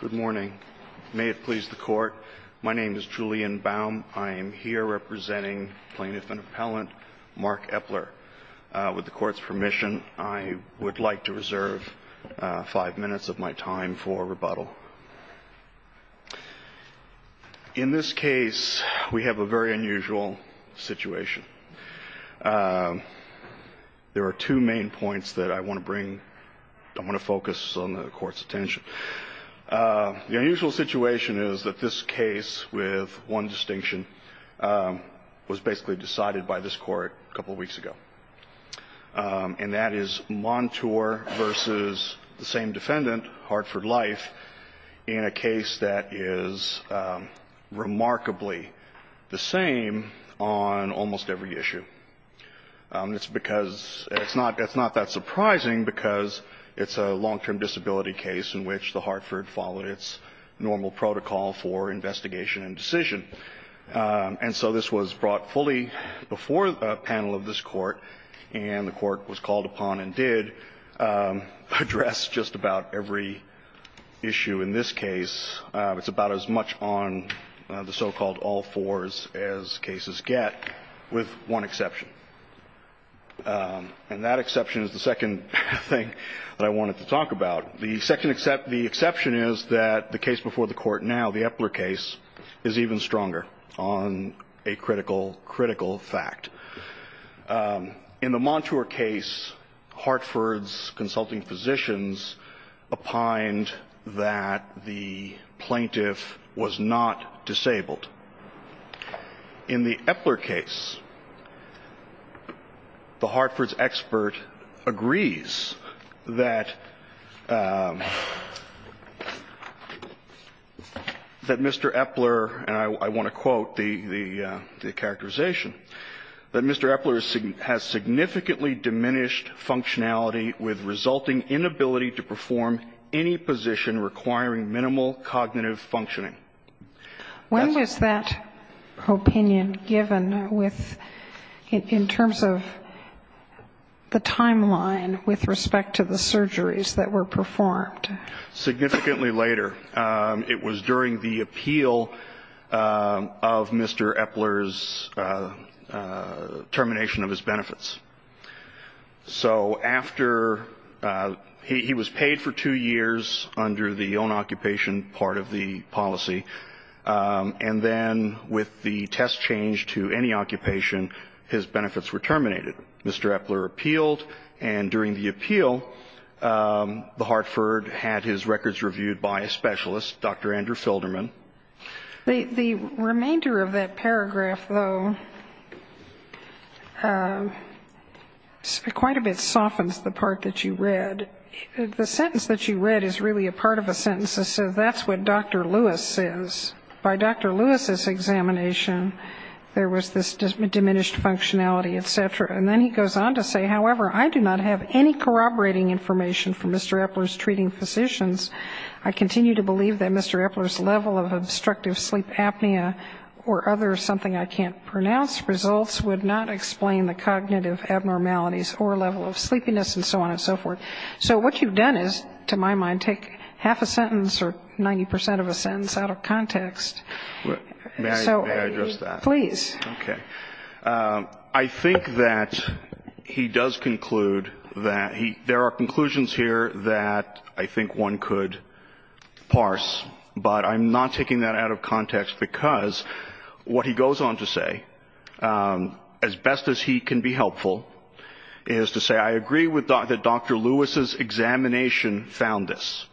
Good morning. May it please the court. My name is Julian Baum. I am here representing plaintiff and appellant Mark Eppler. With the court's permission, I would like to reserve five minutes of my time for rebuttal. In this case, we have a very unusual situation. There are two main points that I want to bring. I want to focus on the court's attention. The unusual situation is that this case, with one distinction, was basically decided by this court a couple of weeks ago. And that is Montour v. the same defendant, Hartford Life, in a case that is remarkably the same on almost every issue. It's because it's not that surprising because it's a long-term disability case in which the Hartford followed its normal protocol for investigation and decision. And so this was brought fully before the panel of this court, and the court was called upon and did address just about every issue in this case. It's about as much on the so-called all fours as cases get, with one exception. And that exception is the second thing that I wanted to talk about. The exception is that the case before the court now, the Epler case, is even stronger on a critical, critical fact. In the Montour case, Hartford's consulting physicians opined that the plaintiff was not disabled. In the Epler case, the Hartford's expert agrees that Mr. Epler, and I want to quote the characterization, that Mr. Epler has significantly diminished functionality with resulting inability to perform any position requiring minimal cognitive functioning. When was that opinion given in terms of the timeline with respect to the surgeries that were performed? Significantly later. It was during the appeal of Mr. Epler's termination of his benefits. So after he was paid for two years under the own occupation part of the policy, and then with the test change to any occupation, his benefits were terminated. Mr. Epler appealed, and during the appeal, the Hartford had his records reviewed by a specialist, Dr. Andrew Filderman. The remainder of that paragraph, though, quite a bit softens the part that you read. The sentence that you read is really a part of a sentence that says that's what Dr. Lewis says. By Dr. Lewis's examination, there was this diminished functionality, et cetera. And then he goes on to say, however, I do not have any corroborating information from Mr. Epler's treating physicians. I continue to believe that Mr. Epler's level of obstructive sleep apnea or other something I can't pronounce results would not explain the cognitive abnormalities or level of sleepiness and so on and so forth. So what you've done is, to my mind, take half a sentence or 90 percent of a sentence out of context. May I address that? Please. Okay. I think that he does conclude that there are conclusions here that I think one could parse, but I'm not taking that out of context because what he goes on to say, as best as he can be helpful, is to say I agree that Dr. Lewis's examination found this.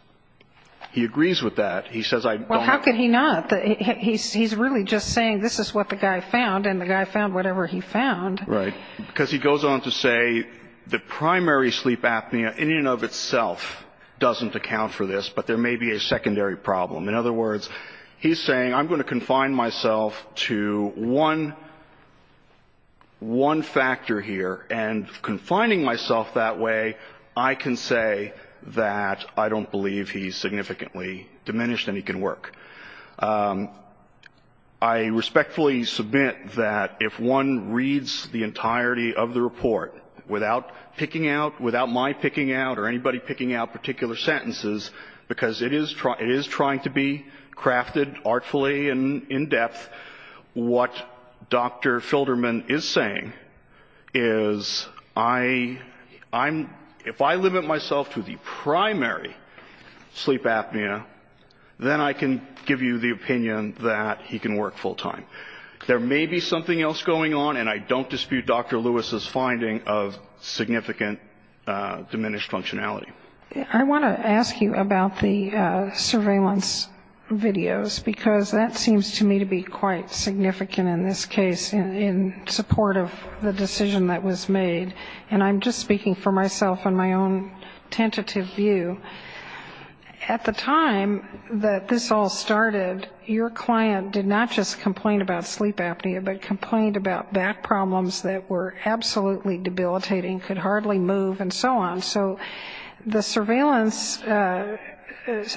He agrees with that. He says I don't. Well, how could he not? He's really just saying this is what the guy found, and the guy found whatever he found. Right. Because he goes on to say the primary sleep apnea in and of itself doesn't account for this, but there may be a secondary problem. In other words, he's saying I'm going to confine myself to one factor here, and confining myself that way, I can say that I don't believe he's significantly diminished and he can work. I respectfully submit that if one reads the entirety of the report without picking out, without my picking out or anybody picking out particular sentences, because it is trying to be crafted artfully and in depth, what Dr. Filderman is saying is if I limit myself to the primary sleep apnea, then I can give you the opinion that he can work full time. There may be something else going on, and I don't dispute Dr. Lewis's finding of significant diminished functionality. I want to ask you about the surveillance videos, because that seems to me to be quite significant in this case in support of the decision that was made. And I'm just speaking for myself and my own tentative view. At the time that this all started, your client did not just complain about sleep apnea, but complained about back problems that were absolutely debilitating, could hardly move, and so on. So the surveillance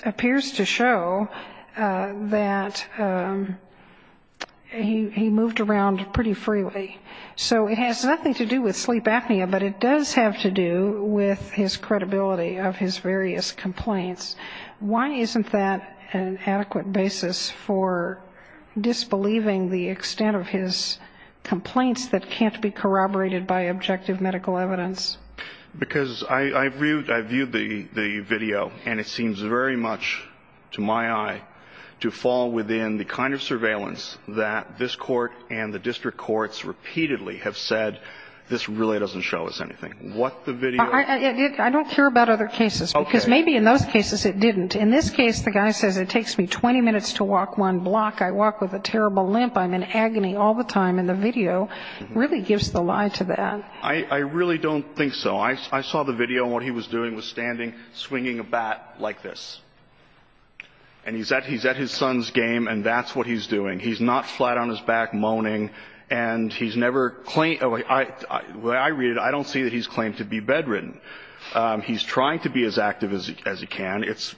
appears to show that he moved around pretty freely. So it has nothing to do with sleep apnea, but it does have to do with his credibility of his various complaints. Why isn't that an adequate basis for disbelieving the extent of his complaints that can't be corroborated by objective medical evidence? Because I've viewed the video, and it seems very much to my eye to fall within the kind of surveillance that this court and the district courts repeatedly have said this really doesn't show us anything. What the video... I don't care about other cases, because maybe in those cases it didn't. In this case, the guy says it takes me 20 minutes to walk one block. I walk with a terrible limp. I'm in agony all the time. And the video really gives the lie to that. I really don't think so. I saw the video, and what he was doing was standing, swinging a bat like this. And he's at his son's game, and that's what he's doing. He's not flat on his back moaning, and he's never claimed to be bedridden. The way I read it, I don't see that he's claimed to be bedridden. He's trying to be as active as he can. It's,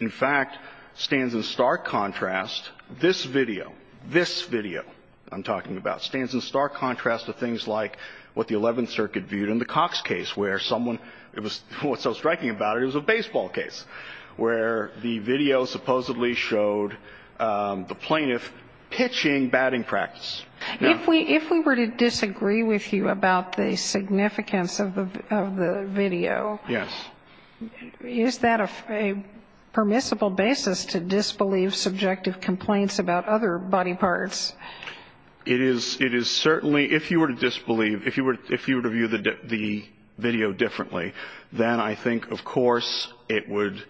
in fact, stands in stark contrast, this video, this video I'm talking about, stands in stark contrast to things like what the Eleventh Circuit viewed in the Cox case, where someone was so striking about it, it was a baseball case, where the video supposedly showed the plaintiff pitching batting practice. Yeah. If we were to disagree with you about the significance of the video... Yes. ...is that a permissible basis to disbelieve subjective complaints about other body parts? It is certainly, if you were to disbelieve, if you were to view the video differently, then I think, of course, it would,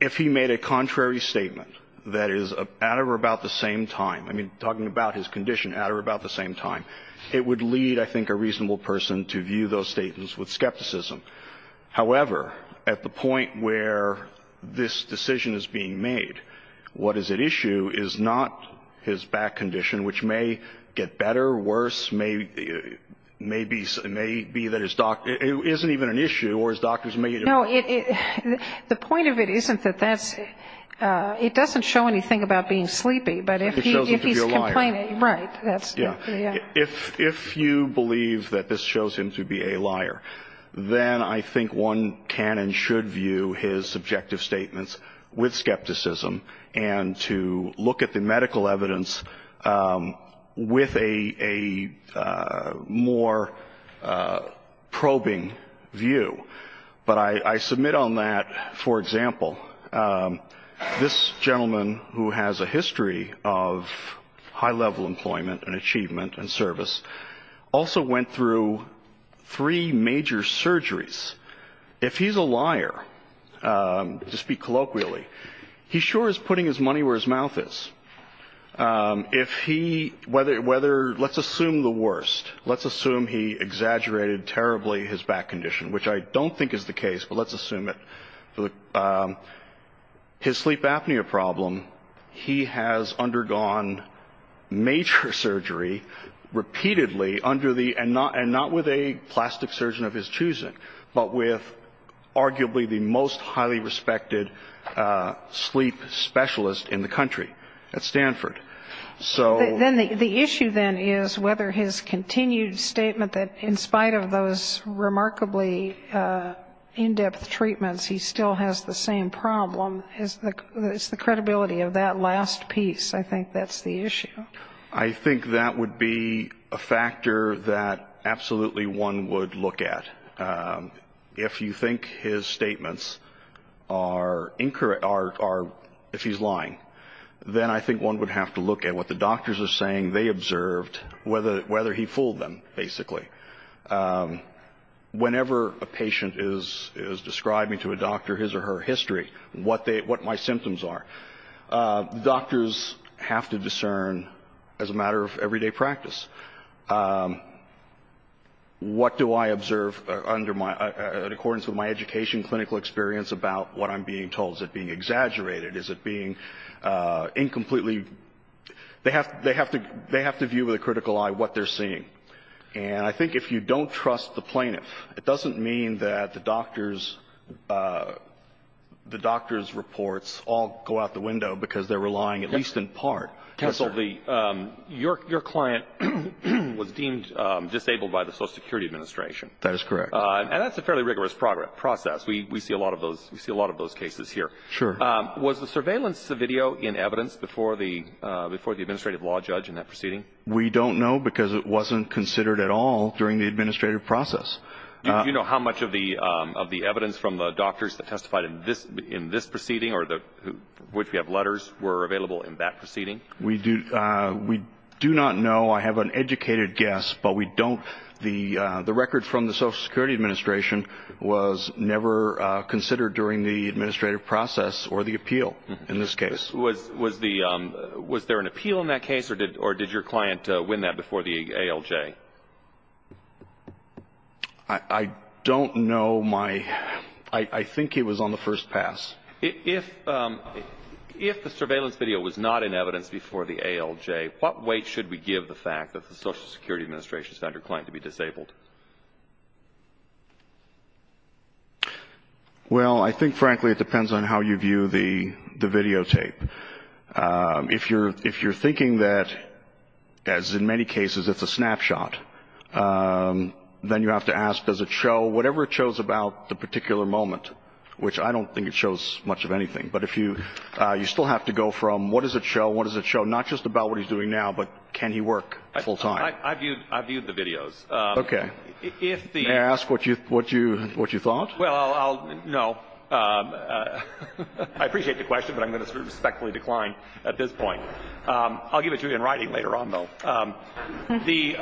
if he made a contrary statement that is at or about the same time, I mean, talking about his condition, at or about the same time, it would lead, I think, a reasonable person to view those statements with skepticism. However, at the point where this decision is being made, what is at issue is not his back condition, which may get better, worse, may be that his doctor, it isn't even an issue, or his doctors may... No, the point of it isn't that that's, it doesn't show anything about being sleepy, but if he's complaining... It shows him to be a liar. Right. Yeah. If you believe that this shows him to be a liar, then I think one can and should view his subjective statements with skepticism and to look at the medical evidence with a more probing view. But I submit on that, for example, this gentleman who has a history of high-level employment and achievement and service also went through three major surgeries. If he's a liar, to speak colloquially, he sure is putting his money where his mouth is. If he, whether, let's assume the worst, let's assume he exaggerated terribly his back condition, which I don't think is the case, but let's assume it. His sleep apnea problem, he has undergone major surgery repeatedly under the, and not with a plastic surgeon of his choosing, but with arguably the most highly respected sleep specialist in the country at Stanford. The issue, then, is whether his continued statement that in spite of those remarkably in-depth treatments, he still has the same problem is the credibility of that last piece. I think that's the issue. I think that would be a factor that absolutely one would look at. If you think his statements are incorrect or if he's lying, then I think one would have to look at what the doctors are saying they observed, whether he fooled them, basically. Whenever a patient is describing to a doctor his or her history, what my symptoms are, doctors have to discern as a matter of everyday practice. What do I observe under my, in accordance with my education, clinical experience about what I'm being told? Is it being exaggerated? Is it being incompletely? They have to view with a critical eye what they're seeing. And I think if you don't trust the plaintiff, it doesn't mean that the doctor's reports all go out the window because they're relying at least in part. Counsel, your client was deemed disabled by the Social Security Administration. That is correct. And that's a fairly rigorous process. We see a lot of those cases here. Sure. Was the surveillance video in evidence before the administrative law judge in that proceeding? We don't know because it wasn't considered at all during the administrative process. Do you know how much of the evidence from the doctors that testified in this proceeding or which we have letters were available in that proceeding? We do not know. I have an educated guess, but we don't. The record from the Social Security Administration was never considered during the administrative process or the appeal in this case. Was there an appeal in that case, or did your client win that before the ALJ? I don't know. I think it was on the first pass. If the surveillance video was not in evidence before the ALJ, what weight should we give the fact that the Social Security Administration found your client to be disabled? Well, I think, frankly, it depends on how you view the videotape. If you're thinking that, as in many cases, it's a snapshot, then you have to ask does it show whatever it shows about the particular moment, which I don't think it shows much of anything. But you still have to go from what does it show, what does it show, not just about what he's doing now, but can he work full time. I viewed the videos. Okay. May I ask what you thought? Well, no. I appreciate the question, but I'm going to respectfully decline at this point. I'll give it to you in writing later on, though. The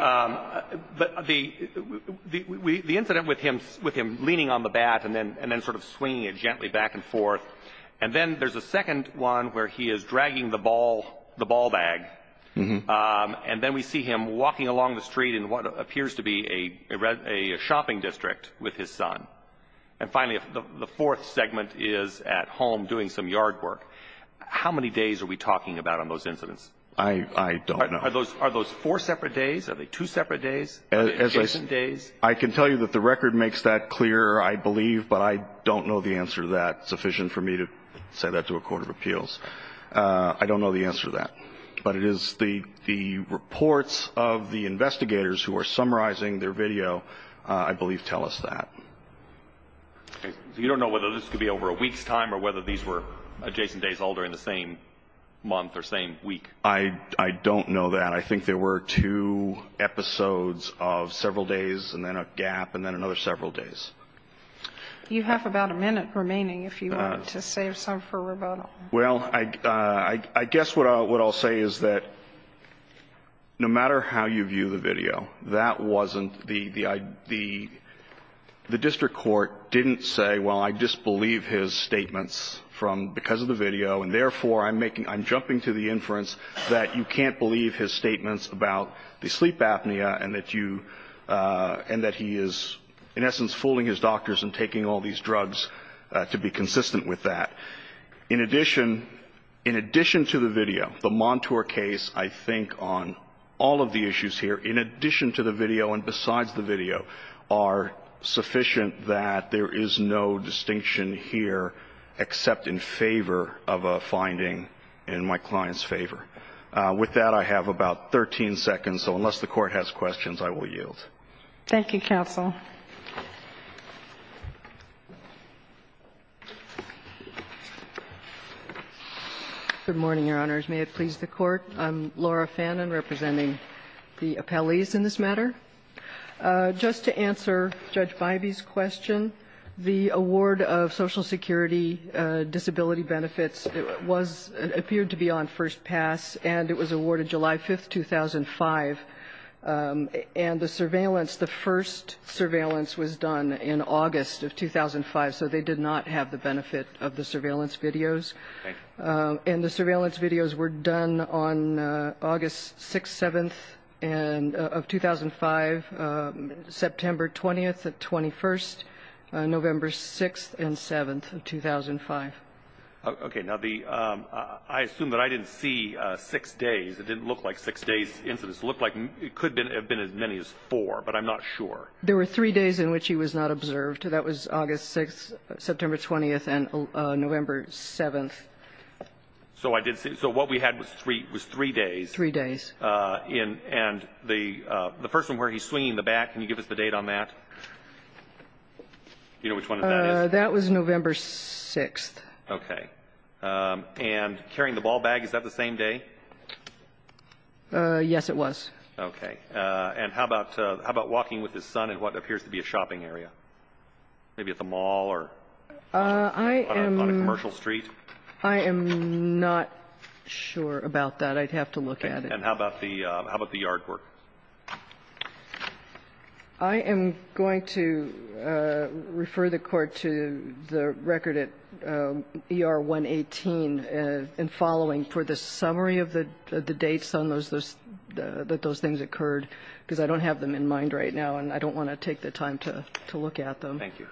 incident with him leaning on the bat and then sort of swinging it gently back and forth, and then there's a second one where he is dragging the ball bag, and then we see him walking along the street in what appears to be a shopping district with his son. And, finally, the fourth segment is at home doing some yard work. How many days are we talking about on those incidents? I don't know. Are those four separate days? Are they two separate days? Are they adjacent days? I can tell you that the record makes that clear, I believe, but I don't know the answer to that sufficient for me to say that to a court of appeals. I don't know the answer to that. But it is the reports of the investigators who are summarizing their video, I believe, tell us that. So you don't know whether this could be over a week's time or whether these were adjacent days all during the same month or same week? I don't know that. I think there were two episodes of several days and then a gap and then another several days. You have about a minute remaining if you wanted to save some for rebuttal. Well, I guess what I'll say is that no matter how you view the video, that wasn't the idea. The district court didn't say, well, I disbelieve his statements from because of the inference that you can't believe his statements about the sleep apnea and that you and that he is, in essence, fooling his doctors and taking all these drugs to be consistent with that. In addition, in addition to the video, the Montour case, I think, on all of the issues here, in addition to the video and besides the video, are sufficient that there is no distinction here except in favor of a finding in my client's favor. With that, I have about 13 seconds. So unless the Court has questions, I will yield. Thank you, counsel. Good morning, Your Honors. May it please the Court. I'm Laura Fannin representing the appellees in this matter. Just to answer Judge Bybee's question, the award of Social Security disability benefits was, appeared to be on first pass, and it was awarded July 5th, 2005. And the surveillance, the first surveillance was done in August of 2005, so they did not have the benefit of the surveillance videos. And the surveillance videos were done on August 6th, 7th of 2005. September 20th, 21st, November 6th, and 7th of 2005. Okay. Now, I assume that I didn't see six days. It didn't look like six days. It looked like it could have been as many as four, but I'm not sure. There were three days in which he was not observed. That was August 6th, September 20th, and November 7th. So what we had was three days. Three days. And the first one where he's swinging the bat, can you give us the date on that? Do you know which one that is? That was November 6th. Okay. And carrying the ball bag, is that the same day? Yes, it was. Okay. And how about walking with his son in what appears to be a shopping area, maybe at the mall or on a commercial street? I am not sure about that. I'd have to look at it. And how about the yard work? I am going to refer the Court to the record at ER 118 and following for the summary of the dates on those, that those things occurred, because I don't have them in mind right now, and I don't want to take the time to look at them. Thank you.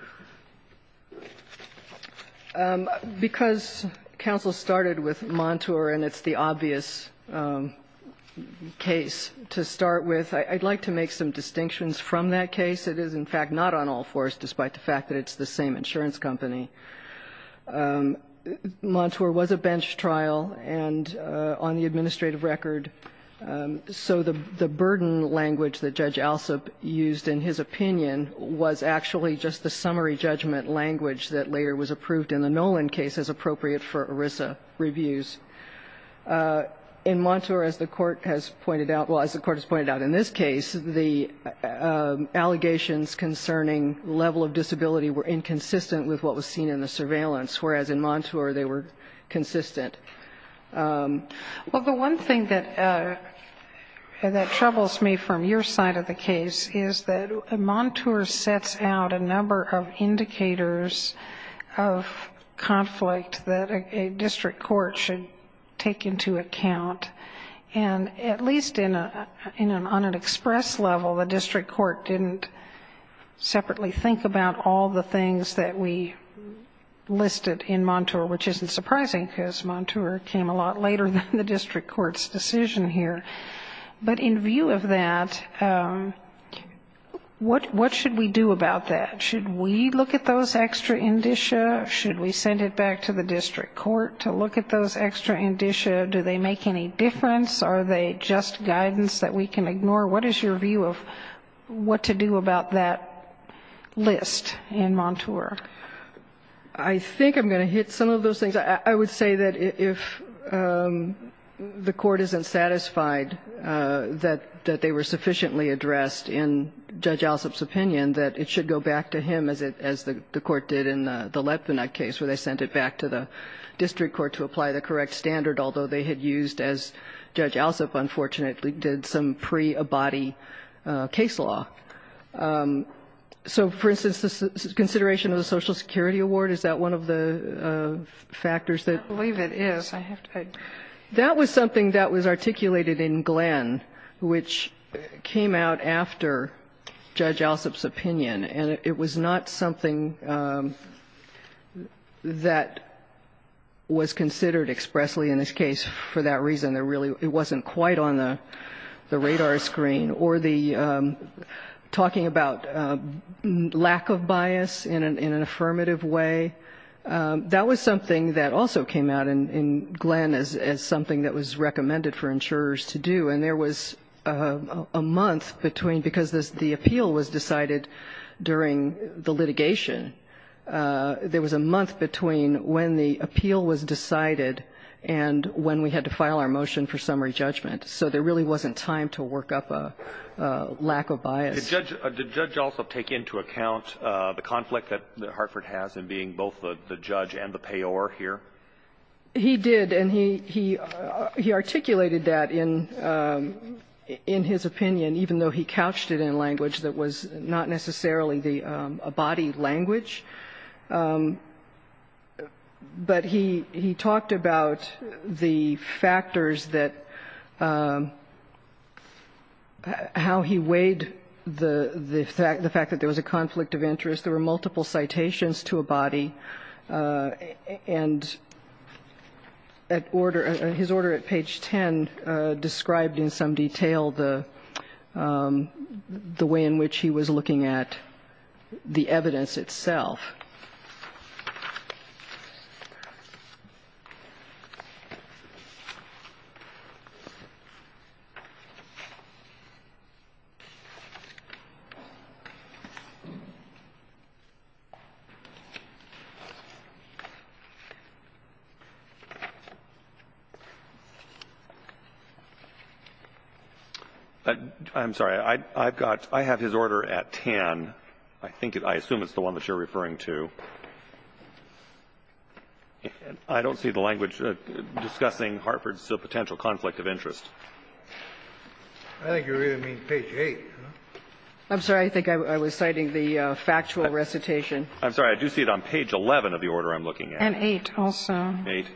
Because counsel started with Montour, and it's the obvious case to start with, I'd like to make some distinctions from that case. It is, in fact, not on all fours, despite the fact that it's the same insurance company. Montour was a bench trial and on the administrative record, so the burden language that Judge Alsop used in his opinion was actually just the summary judgment language that later was approved in the Nolan case as appropriate for ERISA reviews. In Montour, as the Court has pointed out, well, as the Court has pointed out in this case, the allegations concerning level of disability were inconsistent with what was seen in the surveillance, whereas in Montour they were consistent. Well, the one thing that troubles me from your side of the case is that Montour sets out a number of indicators of conflict that a district court should take into account, and at least on an express level, the district court didn't separately think about all the things that we listed in Montour, which isn't surprising because Montour came a lot later than the district court's decision here. But in view of that, what should we do about that? Should we look at those extra indicia? Should we send it back to the district court to look at those extra indicia? Do they make any difference? Are they just guidance that we can ignore? What is your view of what to do about that list in Montour? I think I'm going to hit some of those things. I would say that if the Court isn't satisfied that they were sufficiently addressed in Judge Alsop's opinion, that it should go back to him, as the Court did in the Lepvinut case, where they sent it back to the district court to apply the correct standard, although they had used, as Judge Alsop unfortunately did, some pre-Abadi case law. So, for instance, the consideration of the Social Security Award, is that one of the factors that? I believe it is. That was something that was articulated in Glenn, which came out after Judge Alsop's opinion. And it was not something that was considered expressly in this case for that reason. It wasn't quite on the radar screen. Or the talking about lack of bias in an affirmative way, that was something that also came out in Glenn as something that was recommended for insurers to do. And there was a month between, because the appeal was decided during the litigation, there was a month between when the appeal was decided and when we had to file our motion for summary judgment. So there really wasn't time to work up a lack of bias. Did Judge Alsop take into account the conflict that Hartford has in being both the judge and the payor here? He did. And he articulated that in his opinion, even though he couched it in language that was not necessarily the Abadi language. But he talked about the factors that, how he weighed the fact that there was a conflict of interest. There were multiple citations to Abadi. And his order at page 10 described in some detail the way in which he was looking at the evidence itself. I'm sorry. I've got, I have his order at 10. I think it, I assume it's the one that you're referring to. I don't see the language discussing Hartford's potential conflict of interest. I think you're reading page 8. I'm sorry. I think I was citing the factual recitation. I'm sorry. I do see it on page 11 of the order I'm looking at. And 8 also. 8.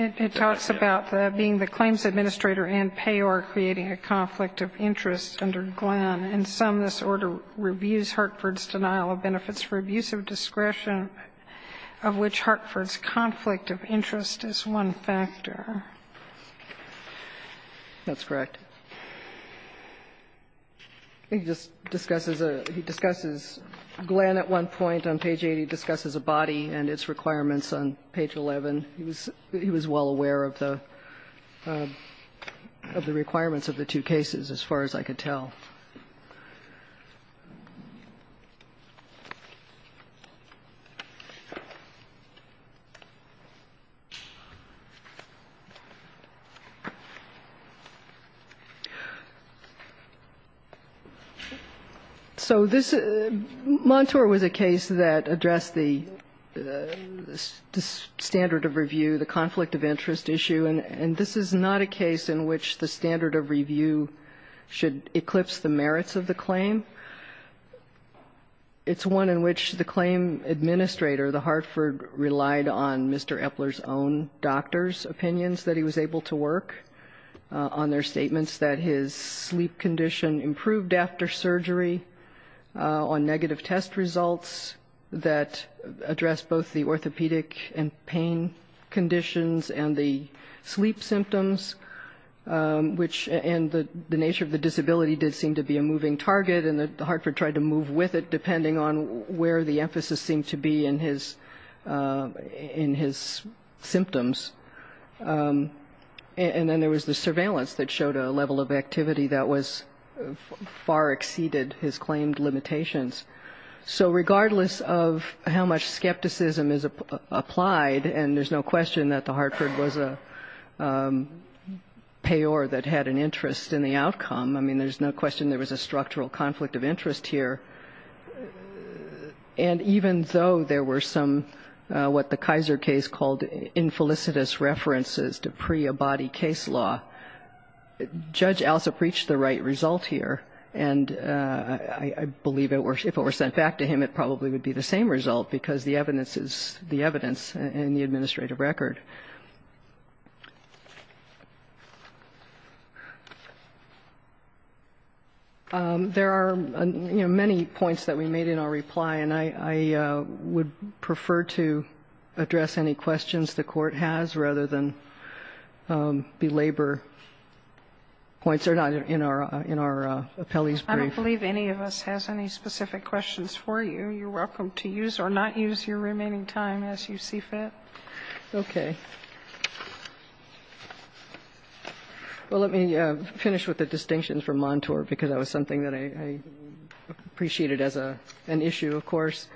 It talks about being the claims administrator and payor creating a conflict of interest under Glenn. In sum, this order reviews Hartford's denial of benefits for abuse of discretion, of which Hartford's conflict of interest is one factor. That's correct. He just discusses a, he discusses Glenn at one point on page 8. He discusses a body and its requirements on page 11. He was well aware of the requirements of the two cases as far as I could tell. So this, Montour was a case that addressed the standard of review, the conflict of interest issue. And this is not a case in which the standard of review should eclipse the merits of the claim. It's one in which the claim administrator, the Hartford, relied on Mr. Epler's own doctor's opinions that he was able to work on their statements that his sleep condition improved after surgery on negative test results that addressed both the sleep symptoms, which, and the nature of the disability did seem to be a moving target, and that Hartford tried to move with it depending on where the emphasis seemed to be in his symptoms. And then there was the surveillance that showed a level of activity that was far exceeded his claimed limitations. So regardless of how much skepticism is applied, and there's no question that the Hartford was a payor that had an interest in the outcome. I mean, there's no question there was a structural conflict of interest here. And even though there were some what the Kaiser case called infelicitous references to preabody case law, Judge Alsop reached the right result here. And I believe if it were sent back to him, it probably would be the same result because the evidence is the evidence in the administrative record. There are many points that we made in our reply, and I would prefer to address any questions the Court has rather than belabor points that are not in our appellee's brief. I don't believe any of us has any specific questions for you. You're welcome to use or not use your remaining time as you see fit. Okay. Well, let me finish with the distinction for Montour because that was something that I appreciated as an issue, of course.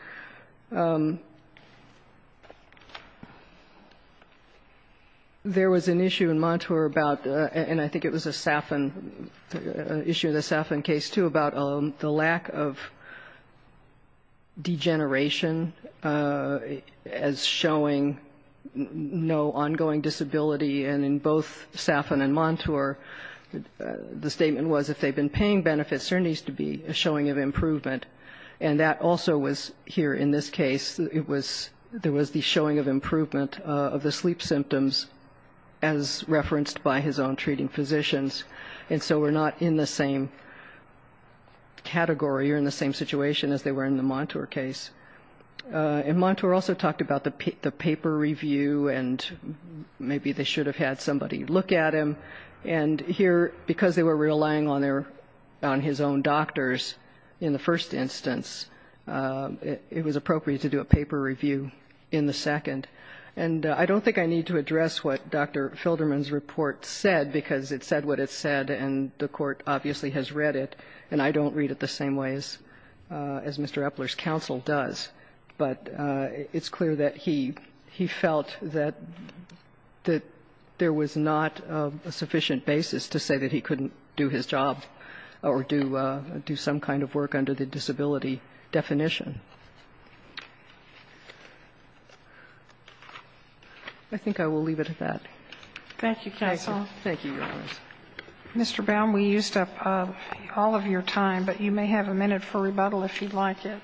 There was an issue in Montour about, and I think it was a Saffin issue, the Saffin case, too, about the lack of degeneration as showing no ongoing disability. And in both Saffin and Montour, the statement was if they've been paying benefits, there needs to be a showing of improvement. And that also was here in this case. There was the showing of improvement of the sleep symptoms as referenced by his own treating physicians. And so we're not in the same category or in the same situation as they were in the Montour case. And Montour also talked about the paper review, and maybe they should have had somebody look at him. And here, because they were relying on his own doctors in the first instance, it was appropriate to do a paper review in the second. And I don't think I need to address what Dr. Filderman's report said, because it said what it said, and the Court obviously has read it. And I don't read it the same way as Mr. Epler's counsel does. But it's clear that he felt that there was not a sufficient basis to say that he couldn't do his job or do some kind of work under the disability definition. I think I will leave it at that. Thank you, counsel. Thank you. Mr. Baum, we used up all of your time, but you may have a minute for rebuttal if you'd like it.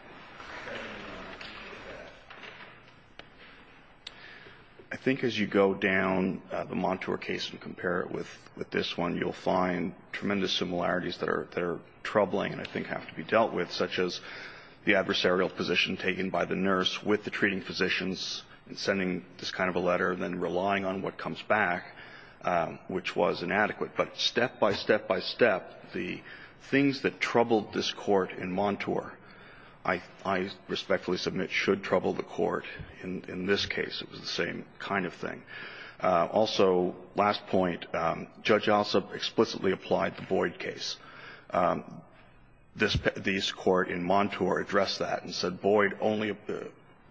I think as you go down the Montour case and compare it with this one, you'll find tremendous similarities that are troubling and I think have to be dealt with, such as the adversarial position taken by the nurse with the treating physicians and sending this kind of a letter, then relying on what comes back, which was inadequate. But step by step by step, the things that troubled this Court in Montour, I respectfully submit, should trouble the Court in this case. It was the same kind of thing. Also, last point, Judge Alsop explicitly applied the Boyd case. This Court in Montour addressed that and said Boyd only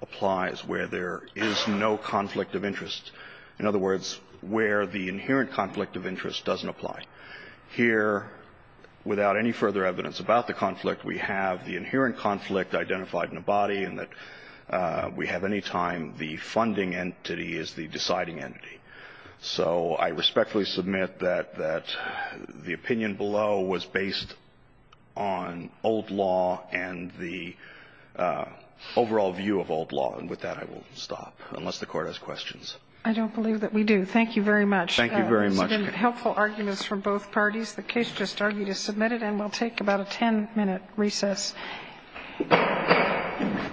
applies where there is no conflict of interest. In other words, where the inherent conflict of interest doesn't apply. Here, without any further evidence about the conflict, we have the inherent conflict identified in the body and that we have any time the funding entity is the deciding entity. So I respectfully submit that the opinion below was based on old law and the overall view of old law, and with that I will stop, unless the Court has questions. I don't believe that we do. Thank you very much. Thank you very much. This has been helpful arguments from both parties. The case just argued is submitted and will take about a 10-minute recess.